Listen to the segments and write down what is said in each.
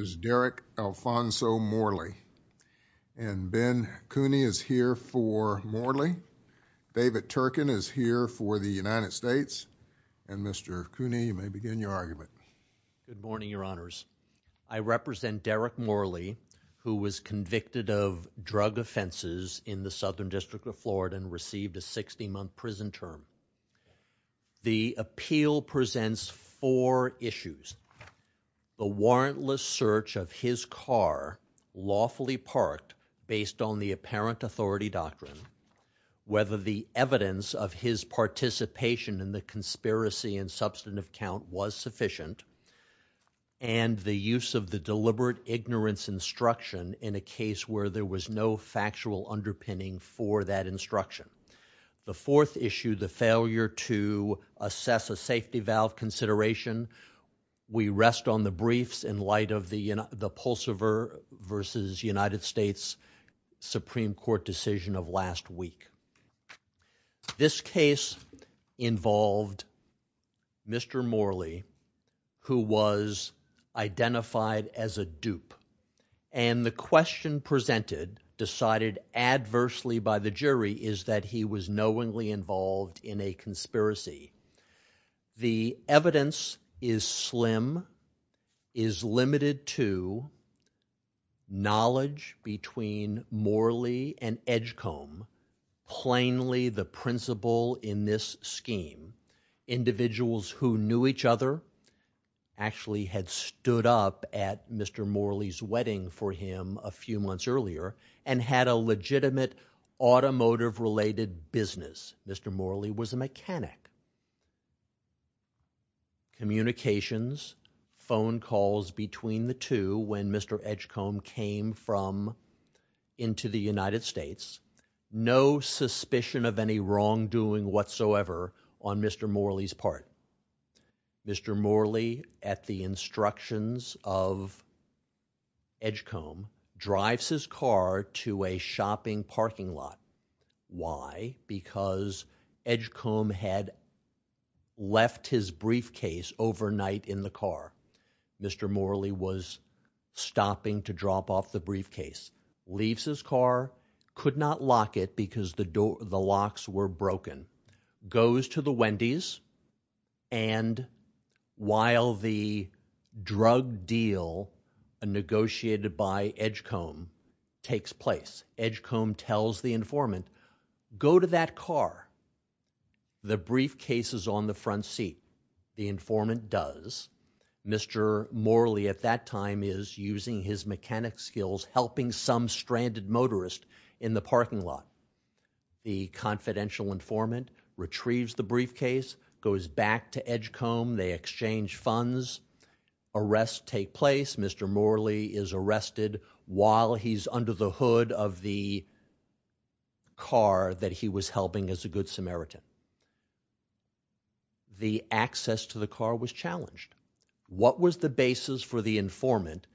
is Derrick Alfonso Morley. And Ben Cooney is here for Morley. David Turkin is here for the United States. And Mr. Cooney, you may begin your argument. Good morning, Your Honors. I represent Derrick Morley, who was convicted of drug offenses in the Southern District of Florida and received a 60-month prison term. The appeal presents four issues. The warrantless search of his car, lawfully parked, based on the apparent authority doctrine, whether the evidence of his participation in the conspiracy and substantive count was sufficient, and the use of the deliberate ignorance instruction in a case where there was no factual underpinning for that instruction. The fourth issue, the failure to assess a safety valve consideration, we rest on the briefs in light of the Pulsever v. United States Supreme Court decision of last week. This case involved Mr. Morley, who was identified as a dupe. And the question presented, decided adversely by the jury, is that he was knowingly involved in a conspiracy. The evidence is slim, is limited to knowledge between Morley and Edgecombe, plainly the principle in this scheme. Individuals who knew each other actually had stood up at Mr. Morley's wedding for him a few months earlier and had a legitimate automotive-related business. Mr. Morley was a mechanic. Communications, phone calls between the two when Mr. Edgecombe came from into the United States, no suspicion of any wrongdoing whatsoever on Mr. Morley's part. Mr. Morley, at the instructions of Edgecombe, drives his car to a shopping parking lot. Why? Because Edgecombe had left his briefcase overnight in the car. Mr. Morley was stopping to drop off the briefcase, leaves his car, could not lock it because the locks were broken, goes to the Wendy's, and while the drug deal negotiated by Edgecombe takes place, Edgecombe tells the informant, go to that car. The briefcase is on the front seat. The informant does. Mr. Morley at that time is using his mechanic skills helping some stranded motorist in the parking lot. The confidential informant retrieves the briefcase, goes back to Edgecombe, they exchange funds, arrests take place, Mr. Morley is arrested while he's under the hood of the car that he was helping as a Good Samaritan. The access to the car was challenged. What was the basis for the informant,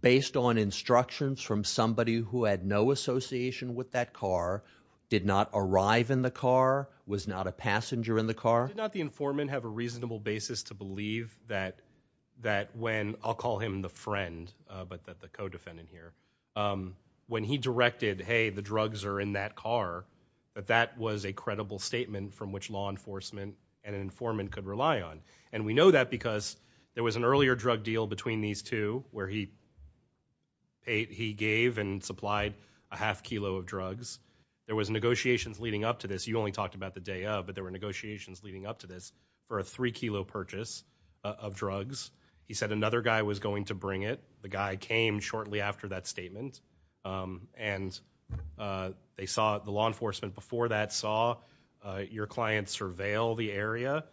based on instructions from somebody who had no association with that car, did not arrive in the car, was not a passenger in the car? Did not the informant have a reasonable basis to believe that when, I'll call him the friend, but the co-defendant here, when he directed, hey, the drugs are in that car, that that was a credible statement from which law enforcement and an informant could rely on. And we know that because there was an earlier drug deal between these two where he paid, he gave and supplied a half kilo of drugs. There was negotiations leading up to this, you only talked about the day of, but there were negotiations leading up to this for a three kilo purchase of drugs. He said another guy was going to bring it. The guy came shortly after that statement. And they saw the law enforcement before that saw your clients surveil the area.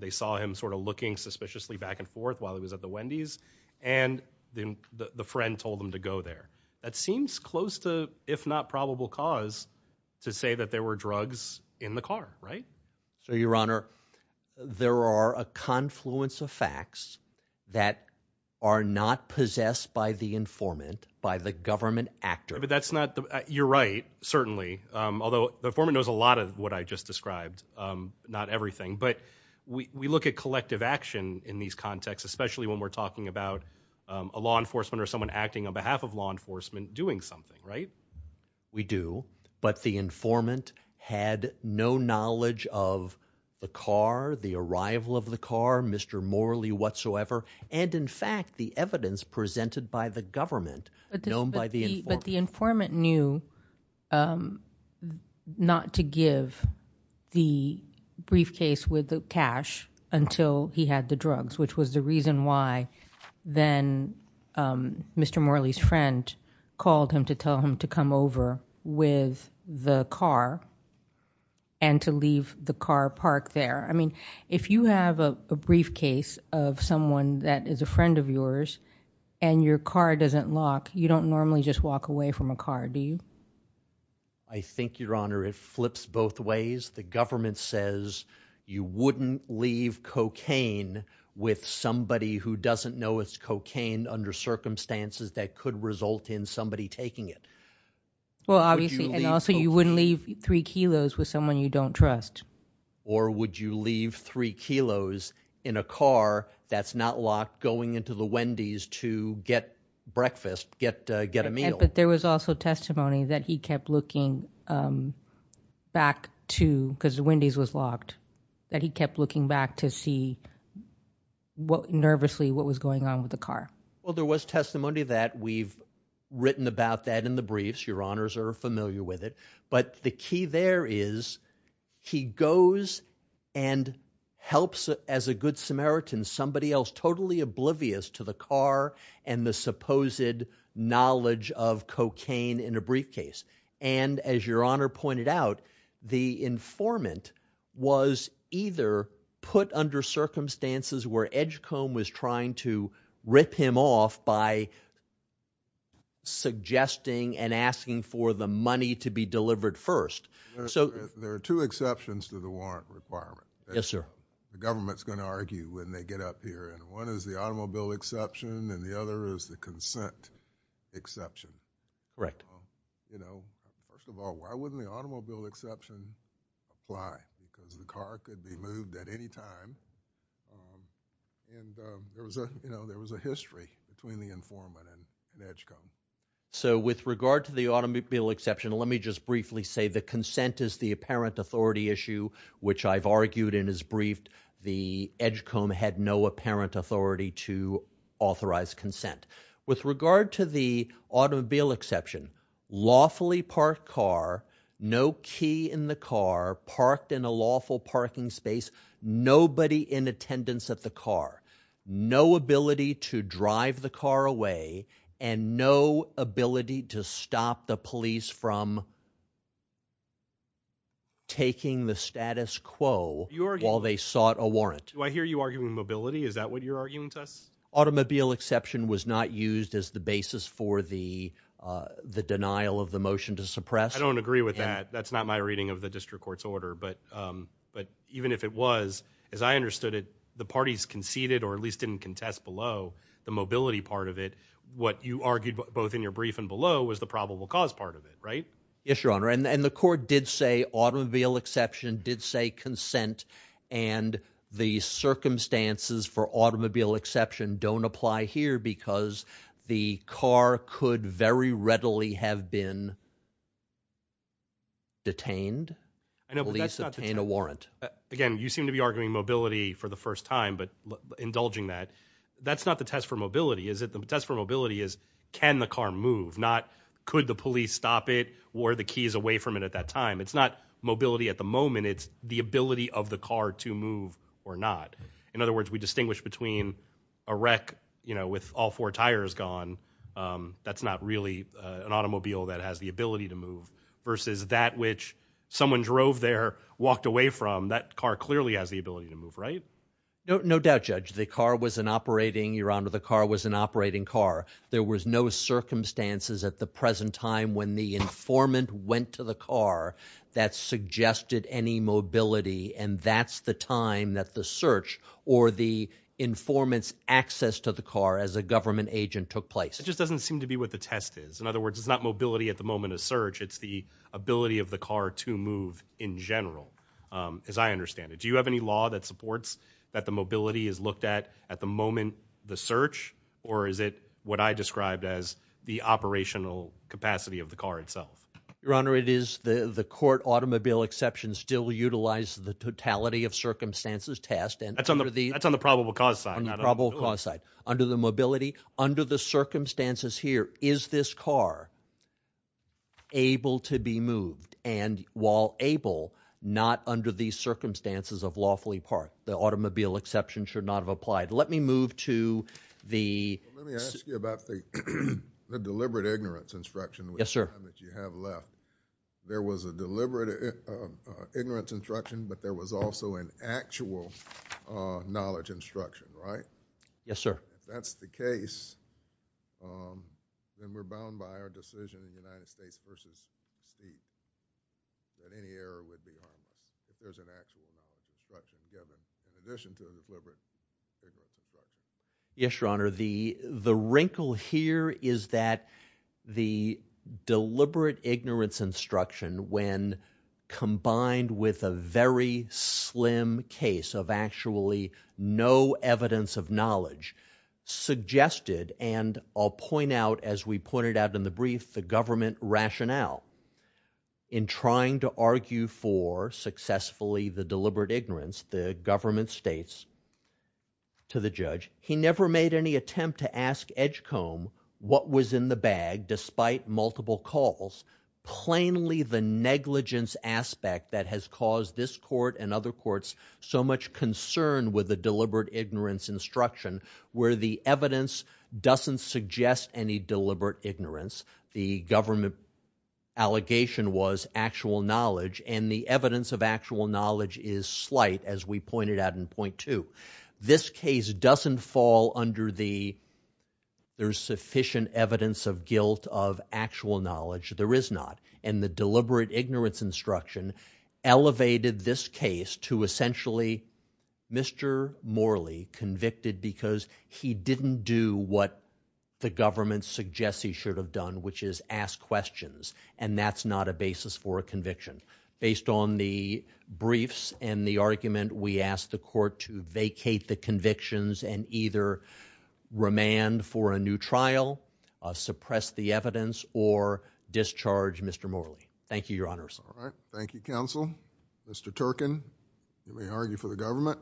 They saw him sort of looking suspiciously back and forth while he was at the Wendy's. And then the friend told them to go there. That seems close to, if not probable cause, to say that there were drugs in the car, right? So, Your Honor, there are a confluence of facts that are not possessed by the informant, by the government actor. But that's not the, you're right, certainly. Although the informant knows a lot of what I just described, not everything. But we look at collective action in these contexts, especially when we're talking about a law enforcement or someone acting on behalf of law enforcement doing something, right? We do. But the informant had no knowledge of the car, the arrival of the car, Mr. Morley whatsoever. And in fact, the evidence presented by the government, known by the informant. But the informant knew not to give the briefcase with the cash until he had the drugs, which was the reason why then Mr. Morley's friend called him to tell him to come over with the car and to leave the car parked there. I mean, if you have a briefcase of someone that is a friend of yours and your car doesn't lock, you don't normally just walk away from a car, do you? I think, Your Honor, it flips both ways. The government says you wouldn't leave cocaine with somebody who doesn't know it's cocaine under circumstances that could result in somebody taking it. Well, obviously, and also you wouldn't leave three kilos with someone you don't trust. Or would you leave three kilos in a car that's not locked going into the Wendy's to get breakfast, get a meal? But there was also testimony that he kept looking back to, because the Wendy's was locked, that he kept looking back to see nervously what was going on with the car. Well, there was testimony that we've written about that in the briefs. Your Honors are familiar with it. But the key there is he goes and helps, as a good Samaritan, somebody else totally oblivious to the car and the supposed knowledge of cocaine in a briefcase. And as Your Honor pointed out, the informant was either put under circumstances where Edgecombe was trying to rip him off by suggesting and asking for the money to be delivered first. So there are two exceptions to the warrant requirement. Yes, sir. The government's going to argue when they get up here. And one is the automobile exception and the other is the consent exception. Correct. You know, first of all, why wouldn't the automobile exception apply? Because the car could be moved at any time. And there was a history between the informant and Edgecombe. So with regard to the automobile exception, let me just briefly say the consent is the apparent authority issue, which I've argued in his brief. The Edgecombe had no apparent authority to authorize consent. With regard to the automobile exception, lawfully parked car, no key in the car, parked in a lawful parking space, nobody in attendance at the car, no ability to drive the car away and no ability to stop the police from taking the status quo while they sought a warrant. Do I hear you arguing mobility? Is that what you're arguing to us? Automobile exception was not used as the basis for the the denial of the motion to suppress. I don't agree with that. That's not my reading of the district court's order. But but even if it was, as I understood it, the parties conceded or at least didn't contest below the mobility part of it. What you argued both in your brief and below was the probable cause part of it, right? Yes, your honor. And the court did say automobile exception did say consent. And the circumstances for automobile exception don't apply here because the car could very readily have been detained. And at least obtain a warrant. Again, you seem to be arguing mobility for the first time, but indulging that that's not the test for mobility, is it? The test for mobility is can the car move? Not could the police stop it or the keys away from it at that time? It's not mobility at the moment. It's the ability of the car to move or not. In other words, we distinguish between a wreck with all four tires gone. That's not really an automobile that has the ability to move versus that which someone drove there, walked away from that car clearly has the ability to move, right? No doubt, Judge. The car was an operating, your honor, the car was an operating car. There was no circumstances at the present time when the informant went to the car that suggested any mobility. And that's the time that the search or the informants access to the car as a government agent took place. It just doesn't seem to be what the test is. In other words, it's not mobility at the moment of search. It's the ability of the car to move in general. As I understand it, do you have any law that supports that the mobility is looked at at the moment the search or is it what I described as the operational capacity of the car itself? Your honor, it is the court automobile exception still utilize the totality of circumstances test and that's on the probable cause side, probable cause side under the mobility under the circumstances here. Is this car able to be moved? And while able not under these circumstances of lawfully parked, the automobile exception should not have applied. Let me move to the Let me ask you about the deliberate ignorance instruction with the time that you have left. There was a deliberate ignorance instruction, but there was also an actual knowledge instruction, right? Yes, sir. If that's the case, then we're bound by our decision in the United States versus Steve that any error would be harmless if there's an actual knowledge instruction given in addition to the deliberate ignorance instruction. Yes, your honor. The the wrinkle here is that the deliberate ignorance instruction when combined with a very slim case of actually no evidence of knowledge suggested and I'll point it out in the brief, the government rationale in trying to argue for successfully the deliberate ignorance, the government states to the judge, he never made any attempt to ask edge comb what was in the bag despite multiple calls, plainly the negligence aspect that has caused this court and other courts so much concern with the deliberate ignorance instruction where the evidence doesn't suggest any deliberate ignorance. The government allegation was actual knowledge and the evidence of actual knowledge is slight as we pointed out in point to this case doesn't fall under the there's sufficient evidence of guilt of actual knowledge. There is not and the deliberate ignorance instruction elevated this case to essentially Mr. Morley convicted because he didn't do what the government suggests he should have done which is ask questions and that's not a basis for a conviction. Based on the briefs and the argument, we asked the court to vacate the convictions and either remand for a new trial, suppress the evidence or discharge Mr. Morley. Thank you, your honors. Thank you, counsel. Mr. Turkin, you may argue for the government.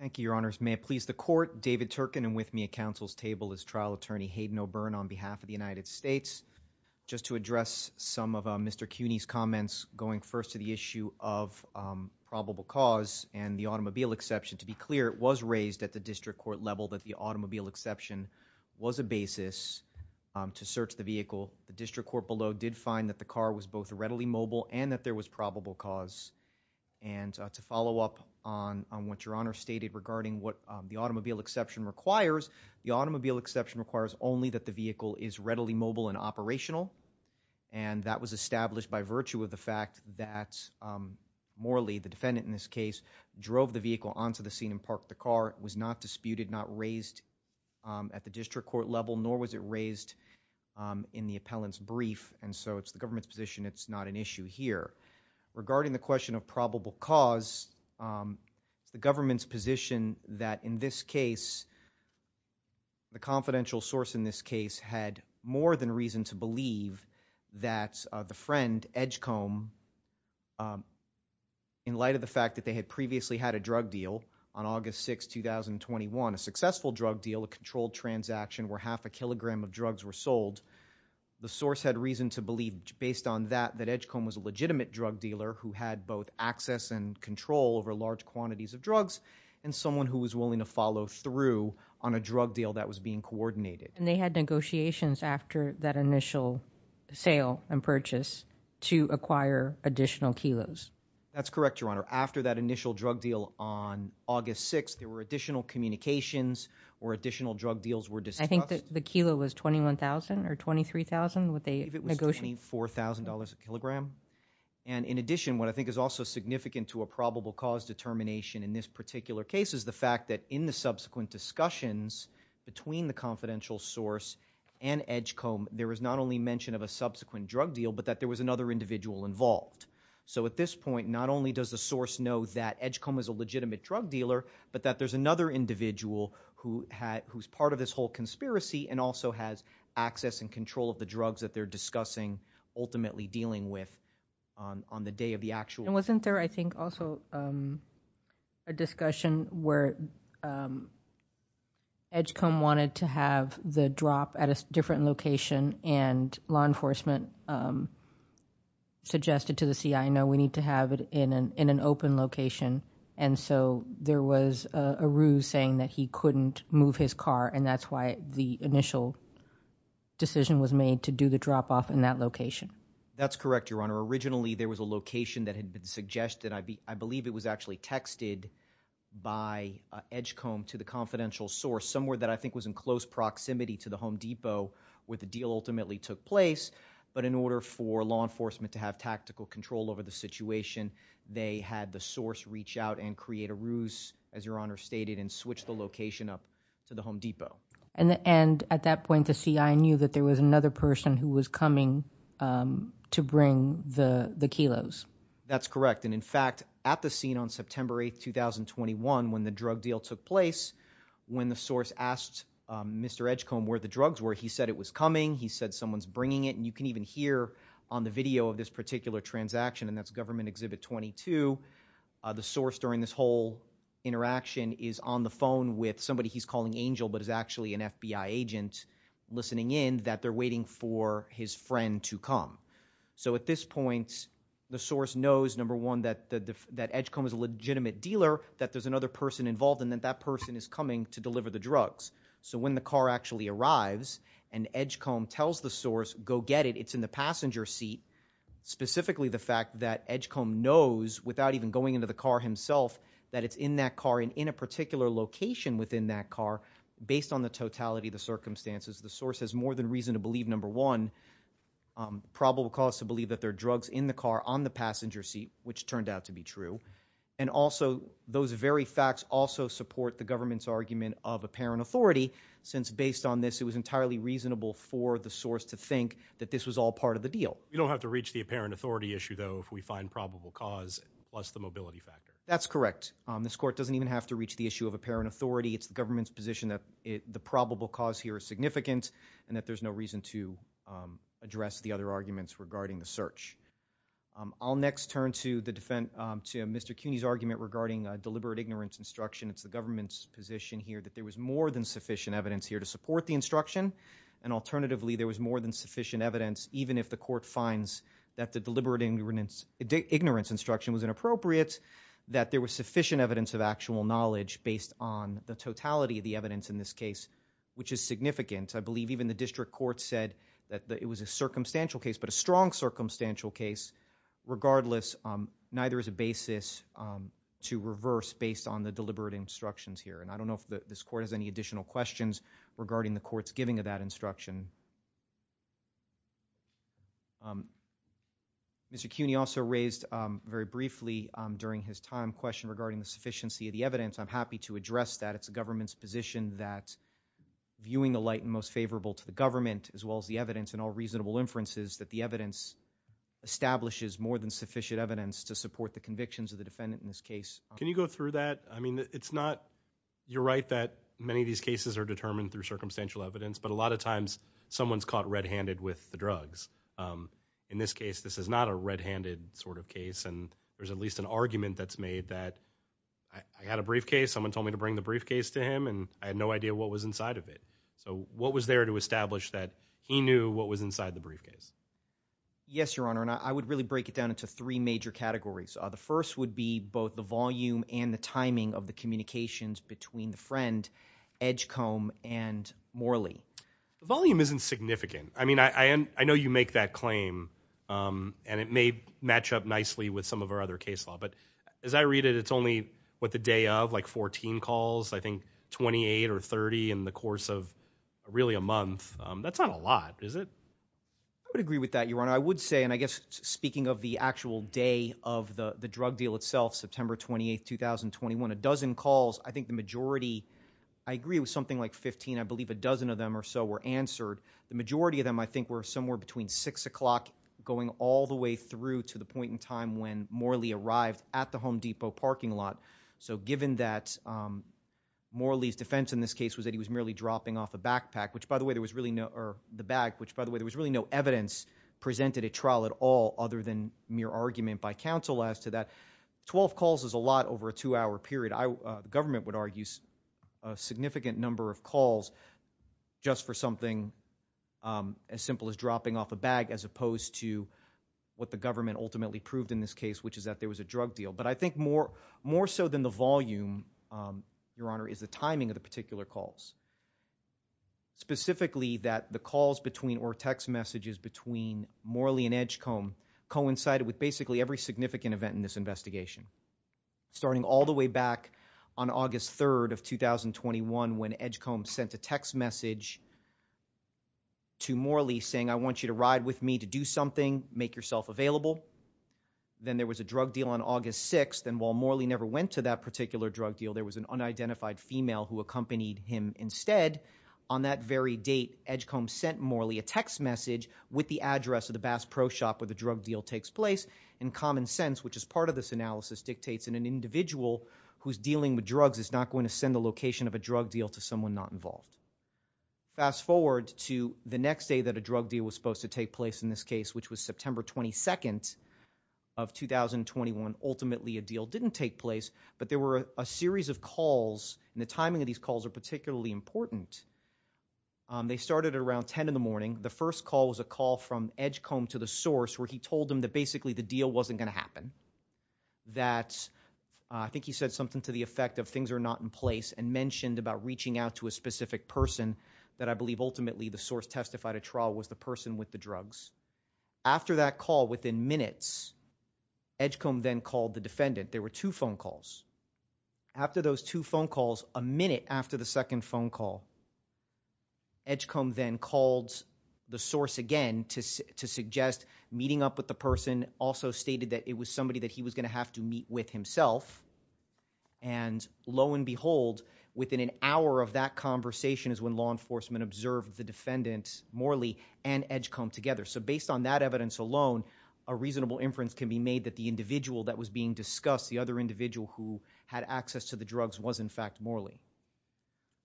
Thank you, your honors. May it please the court, David Turkin and with me at counsel's table is trial attorney Hayden O'Byrne on behalf of the United States. Just to address some of Mr. Cuny's comments going first to the issue of probable cause and the automobile exception, to be clear, it was raised at the district court level that the automobile exception was a basis to search the vehicle. The district court below did find that the car was both readily mobile and that there was probable cause and to follow up on what your honors stated regarding what the automobile exception requires, the automobile exception requires only that the vehicle is readily mobile and operational and that was established by virtue of the fact that Morley, the defendant in this case, drove the vehicle onto the scene and parked the car. It was not disputed, not raised at the district court level nor was it raised in the appellant's brief and so it's the government's position it's not an issue here. Regarding the question of probable cause, it's the government's position that in this case, the confidential source in this case had more than reason to believe that the friend, Edgecombe, in light of the fact that they had previously had a drug deal on August 6, 2021, a successful drug deal, a controlled transaction where half a kilogram of drugs were sold, the source had reason to believe based on that that Edgecombe was a legitimate drug dealer who had both access and control over large quantities of drugs and someone who was willing to follow through on a drug deal that was being coordinated. And they had negotiations after that initial sale and purchase to acquire additional kilos. That's correct, Your Honor. After that initial drug deal on August 6, there were additional communications or additional drug deals were discussed. I think the kilo was $21,000 or $23,000 what they negotiated. I think it was $24,000 a kilogram. And in addition, what I think is also significant to a probable cause determination in this particular case is the fact that in the subsequent discussions between the confidential source and Edgecombe, there was not only mention of a subsequent drug deal but that there was another individual involved. So at this point, not only does the source know that Edgecombe is a legitimate drug dealer, but that there's another individual who's part of this whole conspiracy and also has access and control of the drugs that they're discussing ultimately dealing with on the day of the actual. And wasn't there, I think, also a discussion where Edgecombe wanted to have it in an open location. And so there was a ruse saying that he couldn't move his car, and that's why the initial decision was made to do the drop-off in that location. That's correct, Your Honor. Originally, there was a location that had been suggested. I believe it was actually texted by Edgecombe to the confidential source somewhere that I think was in close proximity to the Home Depot where the deal ultimately took place. But in order for law enforcement to have tactical control over the situation, they had the source reach out and create a ruse, as Your Honor stated, and switch the location up to the Home Depot. And at that point, the CI knew that there was another person who was coming to bring the kilos. That's correct. And in fact, at the scene on September 8, 2021, when the drug deal took place, when the source asked Mr. Edgecombe where the drugs were, he said it was coming, he said someone's bringing it, and you can even hear on the video of this particular transaction, and that's Government Exhibit 22, the source during this whole interaction is on the phone with somebody he's calling Angel but is actually an FBI agent, listening in that they're waiting for his friend to come. So at this point, the source knows, number one, that Edgecombe is a legitimate dealer, that there's another person involved, and that that person is coming to deliver the go get it, it's in the passenger seat, specifically the fact that Edgecombe knows, without even going into the car himself, that it's in that car and in a particular location within that car, based on the totality of the circumstances. The source has more than reason to believe, number one, probable cause to believe that there are drugs in the car on the passenger seat, which turned out to be true. And also, those very facts also support the government's argument of apparent authority, since based on this, it was entirely reasonable for the source to think that this was all part of the deal. We don't have to reach the apparent authority issue, though, if we find probable cause plus the mobility factor. That's correct. This court doesn't even have to reach the issue of apparent authority. It's the government's position that the probable cause here is significant and that there's no reason to address the other arguments regarding the search. I'll next turn to Mr. Cuney's argument regarding deliberate ignorance instruction. It's the government's position here that there was more than sufficient evidence here to support the instruction, and alternatively, there was more than sufficient evidence, even if the court finds that the deliberate ignorance instruction was inappropriate, that there was sufficient evidence of actual knowledge based on the totality of the evidence in this case, which is significant. I believe even the district court said that it was a circumstantial case, but a strong I don't know if this court has any additional questions regarding the court's giving of that instruction. Mr. Cuney also raised, very briefly during his time, a question regarding the sufficiency of the evidence. I'm happy to address that. It's the government's position that, viewing the light most favorable to the government, as well as the evidence and all reasonable inferences, that the evidence establishes more than sufficient evidence to support the convictions of the defendant in this case. Can you go through that? I mean, it's not, you're right that many of these cases are determined through circumstantial evidence, but a lot of times, someone's caught red-handed with the drugs. In this case, this is not a red-handed sort of case, and there's at least an argument that's made that, I had a briefcase, someone told me to bring the briefcase to him, and I had no idea what was inside of it. So, what was there to establish that he knew what was inside the briefcase? Yes, Your Honor, and I would really break it down into three major categories. The first would be both the volume and the timing of the communications between the friend, Edgecombe and Morley. The volume isn't significant. I mean, I know you make that claim, and it may match up nicely with some of our other case law, but as I read it, it's only what the day of, like 14 calls, I think 28 or 30 in the course of really a month. That's not a lot, is it? I would agree with that, Your Honor. I would say, and I guess speaking of the actual day of the drug deal itself, September 28, 2021, a dozen calls, I think the majority, I agree it was something like 15, I believe a dozen of them or so were answered. The majority of them, I think, were somewhere between 6 o'clock going all the way through to the point in time when Morley arrived at the Home Depot parking lot. So, given that Morley's defense in this case was that he was merely dropping off a backpack, which, by the way, there was really no evidence presented at trial at all other than mere argument by counsel as to that, 12 calls is a lot over a two-hour period. The government would argue a significant number of calls just for something as simple as dropping off a bag as opposed to what the government ultimately proved in this case, which is that there was a drug deal. But I think more so than the volume, Your Honor, is the timing of the particular calls. Specifically, that the calls between or text messages between Morley and Edgecombe coincided with basically every significant event in this investigation. Starting all the way back on August 3rd of 2021 when Edgecombe sent a text message to Morley saying, I want you to ride with me to do something, make yourself available. Then there was a drug deal on August 6th. And while Morley never went to that particular drug deal, there was an unidentified female who accompanied him instead. On that very date, Edgecombe sent Morley a text message with the address of the Bass Pro Shop where the drug deal takes place. And common sense, which is part of this analysis, dictates that an individual who's dealing with drugs is not going to send the location of a drug deal to someone not involved. Fast forward to the next day that a drug deal was supposed to take place in this case, which was September 22nd of 2021. Ultimately, a deal didn't take place. But there were a series of calls. And the timing of these calls are particularly important. They started around 10 in the morning. The first call was a call from Edgecombe to the source where he told him that basically the deal wasn't going to happen. That I think he said something to the effect of things are not in place and mentioned about reaching out to a specific person that I believe ultimately the source testified a trial was the person with the drugs. After that call, within minutes, Edgecombe then called the defendant. There were two phone calls. After those two phone calls, a minute after the second phone call, Edgecombe then called the source again to suggest meeting up with the person, also stated that it was somebody that he was going to have to meet with himself. And lo and behold, within an hour of that conversation is when law enforcement observed the defendant, Morley, and Edgecombe together. So based on that evidence alone, a reasonable inference can be made that the individual that was being discussed, the other individual who had access to the drugs was in fact Morley.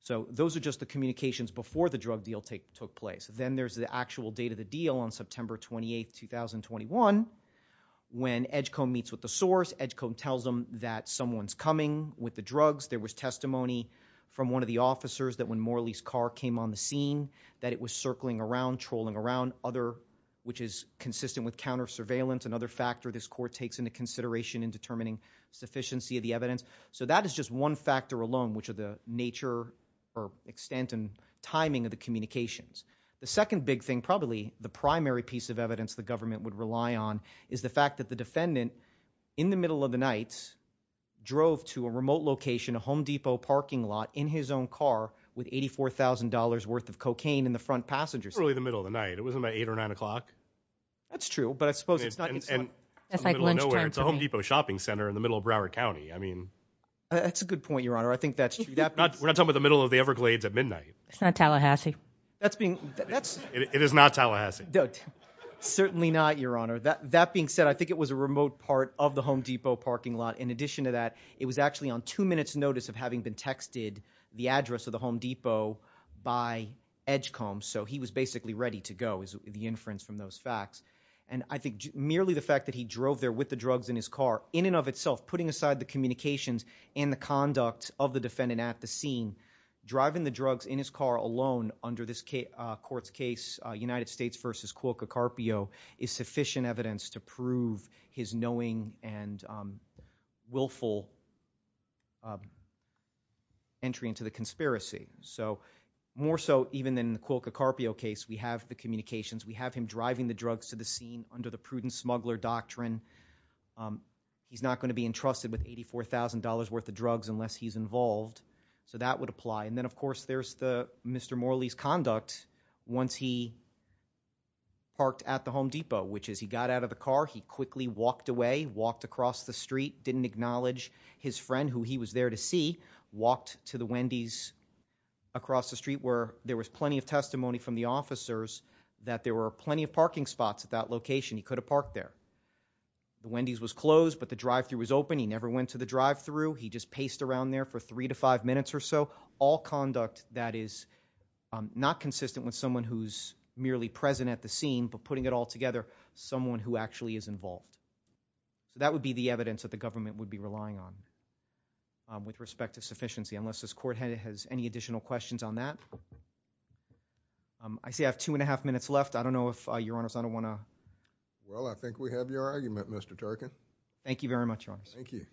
So those are just the communications before the drug deal took place. Then there's the actual date of the deal on September 28, 2021. When Edgecombe meets with the source, Edgecombe tells him that someone's coming with the drugs. There was testimony from one of the officers that when Morley's car came on the scene, that it was circling around, trolling around, which is consistent with counter surveillance, another factor this court takes into consideration in determining sufficiency of the evidence. So that is just one factor alone, which are the nature or extent and timing of the communications. The second big thing, probably the primary piece of evidence the government would rely on, is the fact that the defendant, in the middle of the night, drove to a remote location, a Home Depot parking lot in his own car with $84,000 worth of cocaine in the front passenger seat. It wasn't really the middle of the night. It wasn't about 8 or 9 o'clock. That's true, but I suppose it's not in the middle of nowhere. It's a Home Depot shopping center in the middle of Broward County. That's a good point, Your Honor. I think that's true. We're not talking about the middle of the Everglades at midnight. It's not Tallahassee. It is not Tallahassee. Certainly not, Your Honor. That being said, I think it was a remote part of the Home Depot parking lot. In addition to that, it was actually on two minutes' notice of having been texted the address of the Home Depot by Edgecombe. So he was basically ready to go is the inference from those facts. And I think merely the fact that he drove there with the drugs in his car, in and of itself putting aside the communications and the conduct of the defendant at the scene, driving the drugs in his car alone under this court's case, United States v. Cuoco Carpio, is sufficient evidence to prove his knowing and willful entry into the conspiracy. So more so even than the Cuoco Carpio case, we have the communications. We have him driving the drugs to the scene under the prudent smuggler doctrine. He's not going to be entrusted with $84,000 worth of drugs unless he's involved. So that would apply. And then, of course, there's Mr. Morley's conduct once he parked at the Home Depot, which is he got out of the car, he quickly walked away, walked across the street, didn't acknowledge his friend who he was there to see, walked to the Wendy's across the street where there was plenty of testimony from the officers that there were plenty of parking spots at that location. He could have parked there. The Wendy's was closed, but the drive-thru was open. He never went to the drive-thru. He just paced around there for three to five minutes or so. All conduct that is not consistent with someone who's merely present at the scene but putting it all together, someone who actually is involved. So that would be the evidence that the government would be relying on with respect to sufficiency unless this court has any additional questions on that. I see I have two and a half minutes left. I don't know if, Your Honors, I don't want to— Well, I think we have your argument, Mr. Turkin. Thank you very much, Your Honors. Thank you.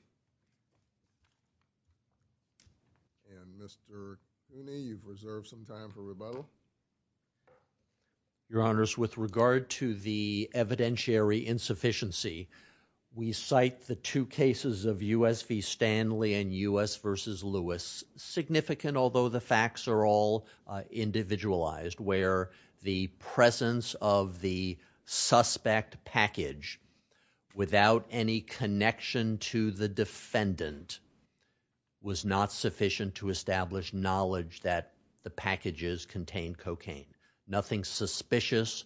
And Mr. Cooney, you've reserved some time for rebuttal. Your Honors, with regard to the evidentiary insufficiency, we cite the two cases of U.S. v. Stanley and U.S. v. Lewis. Significant, although the facts are all individualized, where the presence of the suspect package without any connection to the defendant was not sufficient to establish knowledge that the packages contained cocaine. Nothing suspicious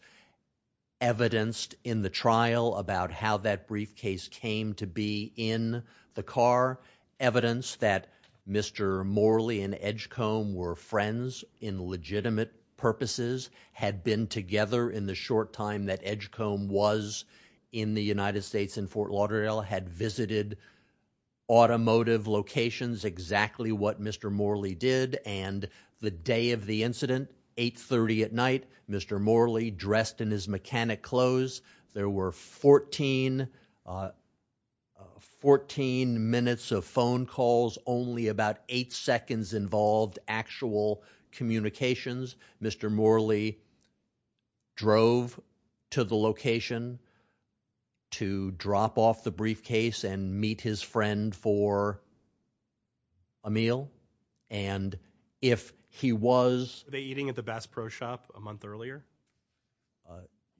evidenced in the trial about how that briefcase came to be in the car. Evidence that Mr. Morley and Edgecombe were friends in legitimate purposes, had been together in the short time that Edgecombe was in the United States in Fort Lauderdale, had visited automotive locations, exactly what Mr. Morley did, and the day of the incident, 8.30 at night, Mr. Morley dressed in his mechanic clothes. There were 14 minutes of phone calls. Only about eight seconds involved actual communications. Mr. Morley drove to the location to drop off the briefcase and meet his friend for a meal. And if he was... Were they eating at the Bass Pro Shop a month earlier?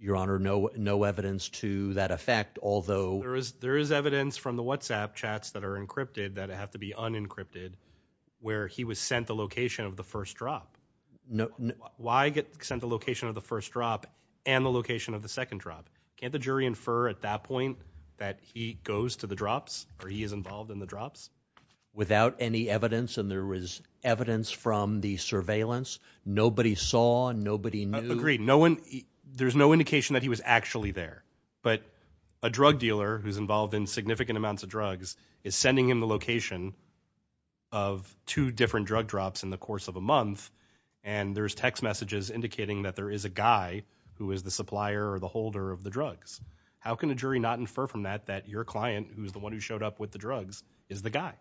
Your Honor, no evidence to that effect, although... There is evidence from the WhatsApp chats that are encrypted that have to be unencrypted where he was sent the location of the first drop. Why get sent the location of the first drop and the location of the second drop? Can't the jury infer at that point that he goes to the drops or he is involved in the drops? Without any evidence and there was evidence from the surveillance? Nobody saw, nobody knew? Agreed. There's no indication that he was actually there. But a drug dealer who's involved in significant amounts of drugs is sending him the location of two different drug drops in the course of a month and there's text messages indicating that there is a guy who is the supplier or the holder of the drugs. How can a jury not infer from that that your client, who is the one who showed up with the drugs, is the guy?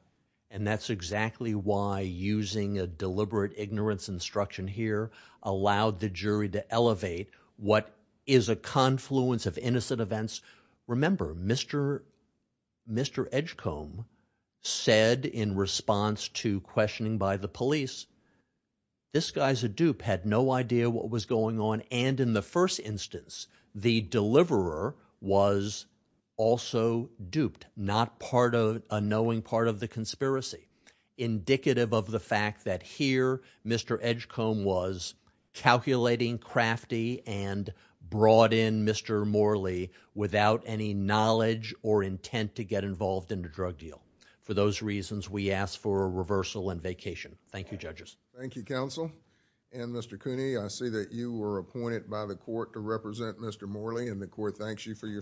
And that's exactly why using a deliberate ignorance instruction here allowed the jury to elevate what is a confluence of innocent events. Remember, Mr. Edgecombe said in response to questioning by the police, this guy's a dupe, had no idea what was going on and in the first instance the deliverer was also duped, not a knowing part of the conspiracy. Indicative of the fact that here Mr. Edgecombe was calculating crafty and brought in Mr. Morley without any knowledge or intent to get involved in the drug deal. For those reasons, we ask for a reversal and vacation. Thank you, judges. Thank you, counsel. And Mr. Cooney, I see that you were appointed by the court to represent Mr. Morley and the court thanks you for your service.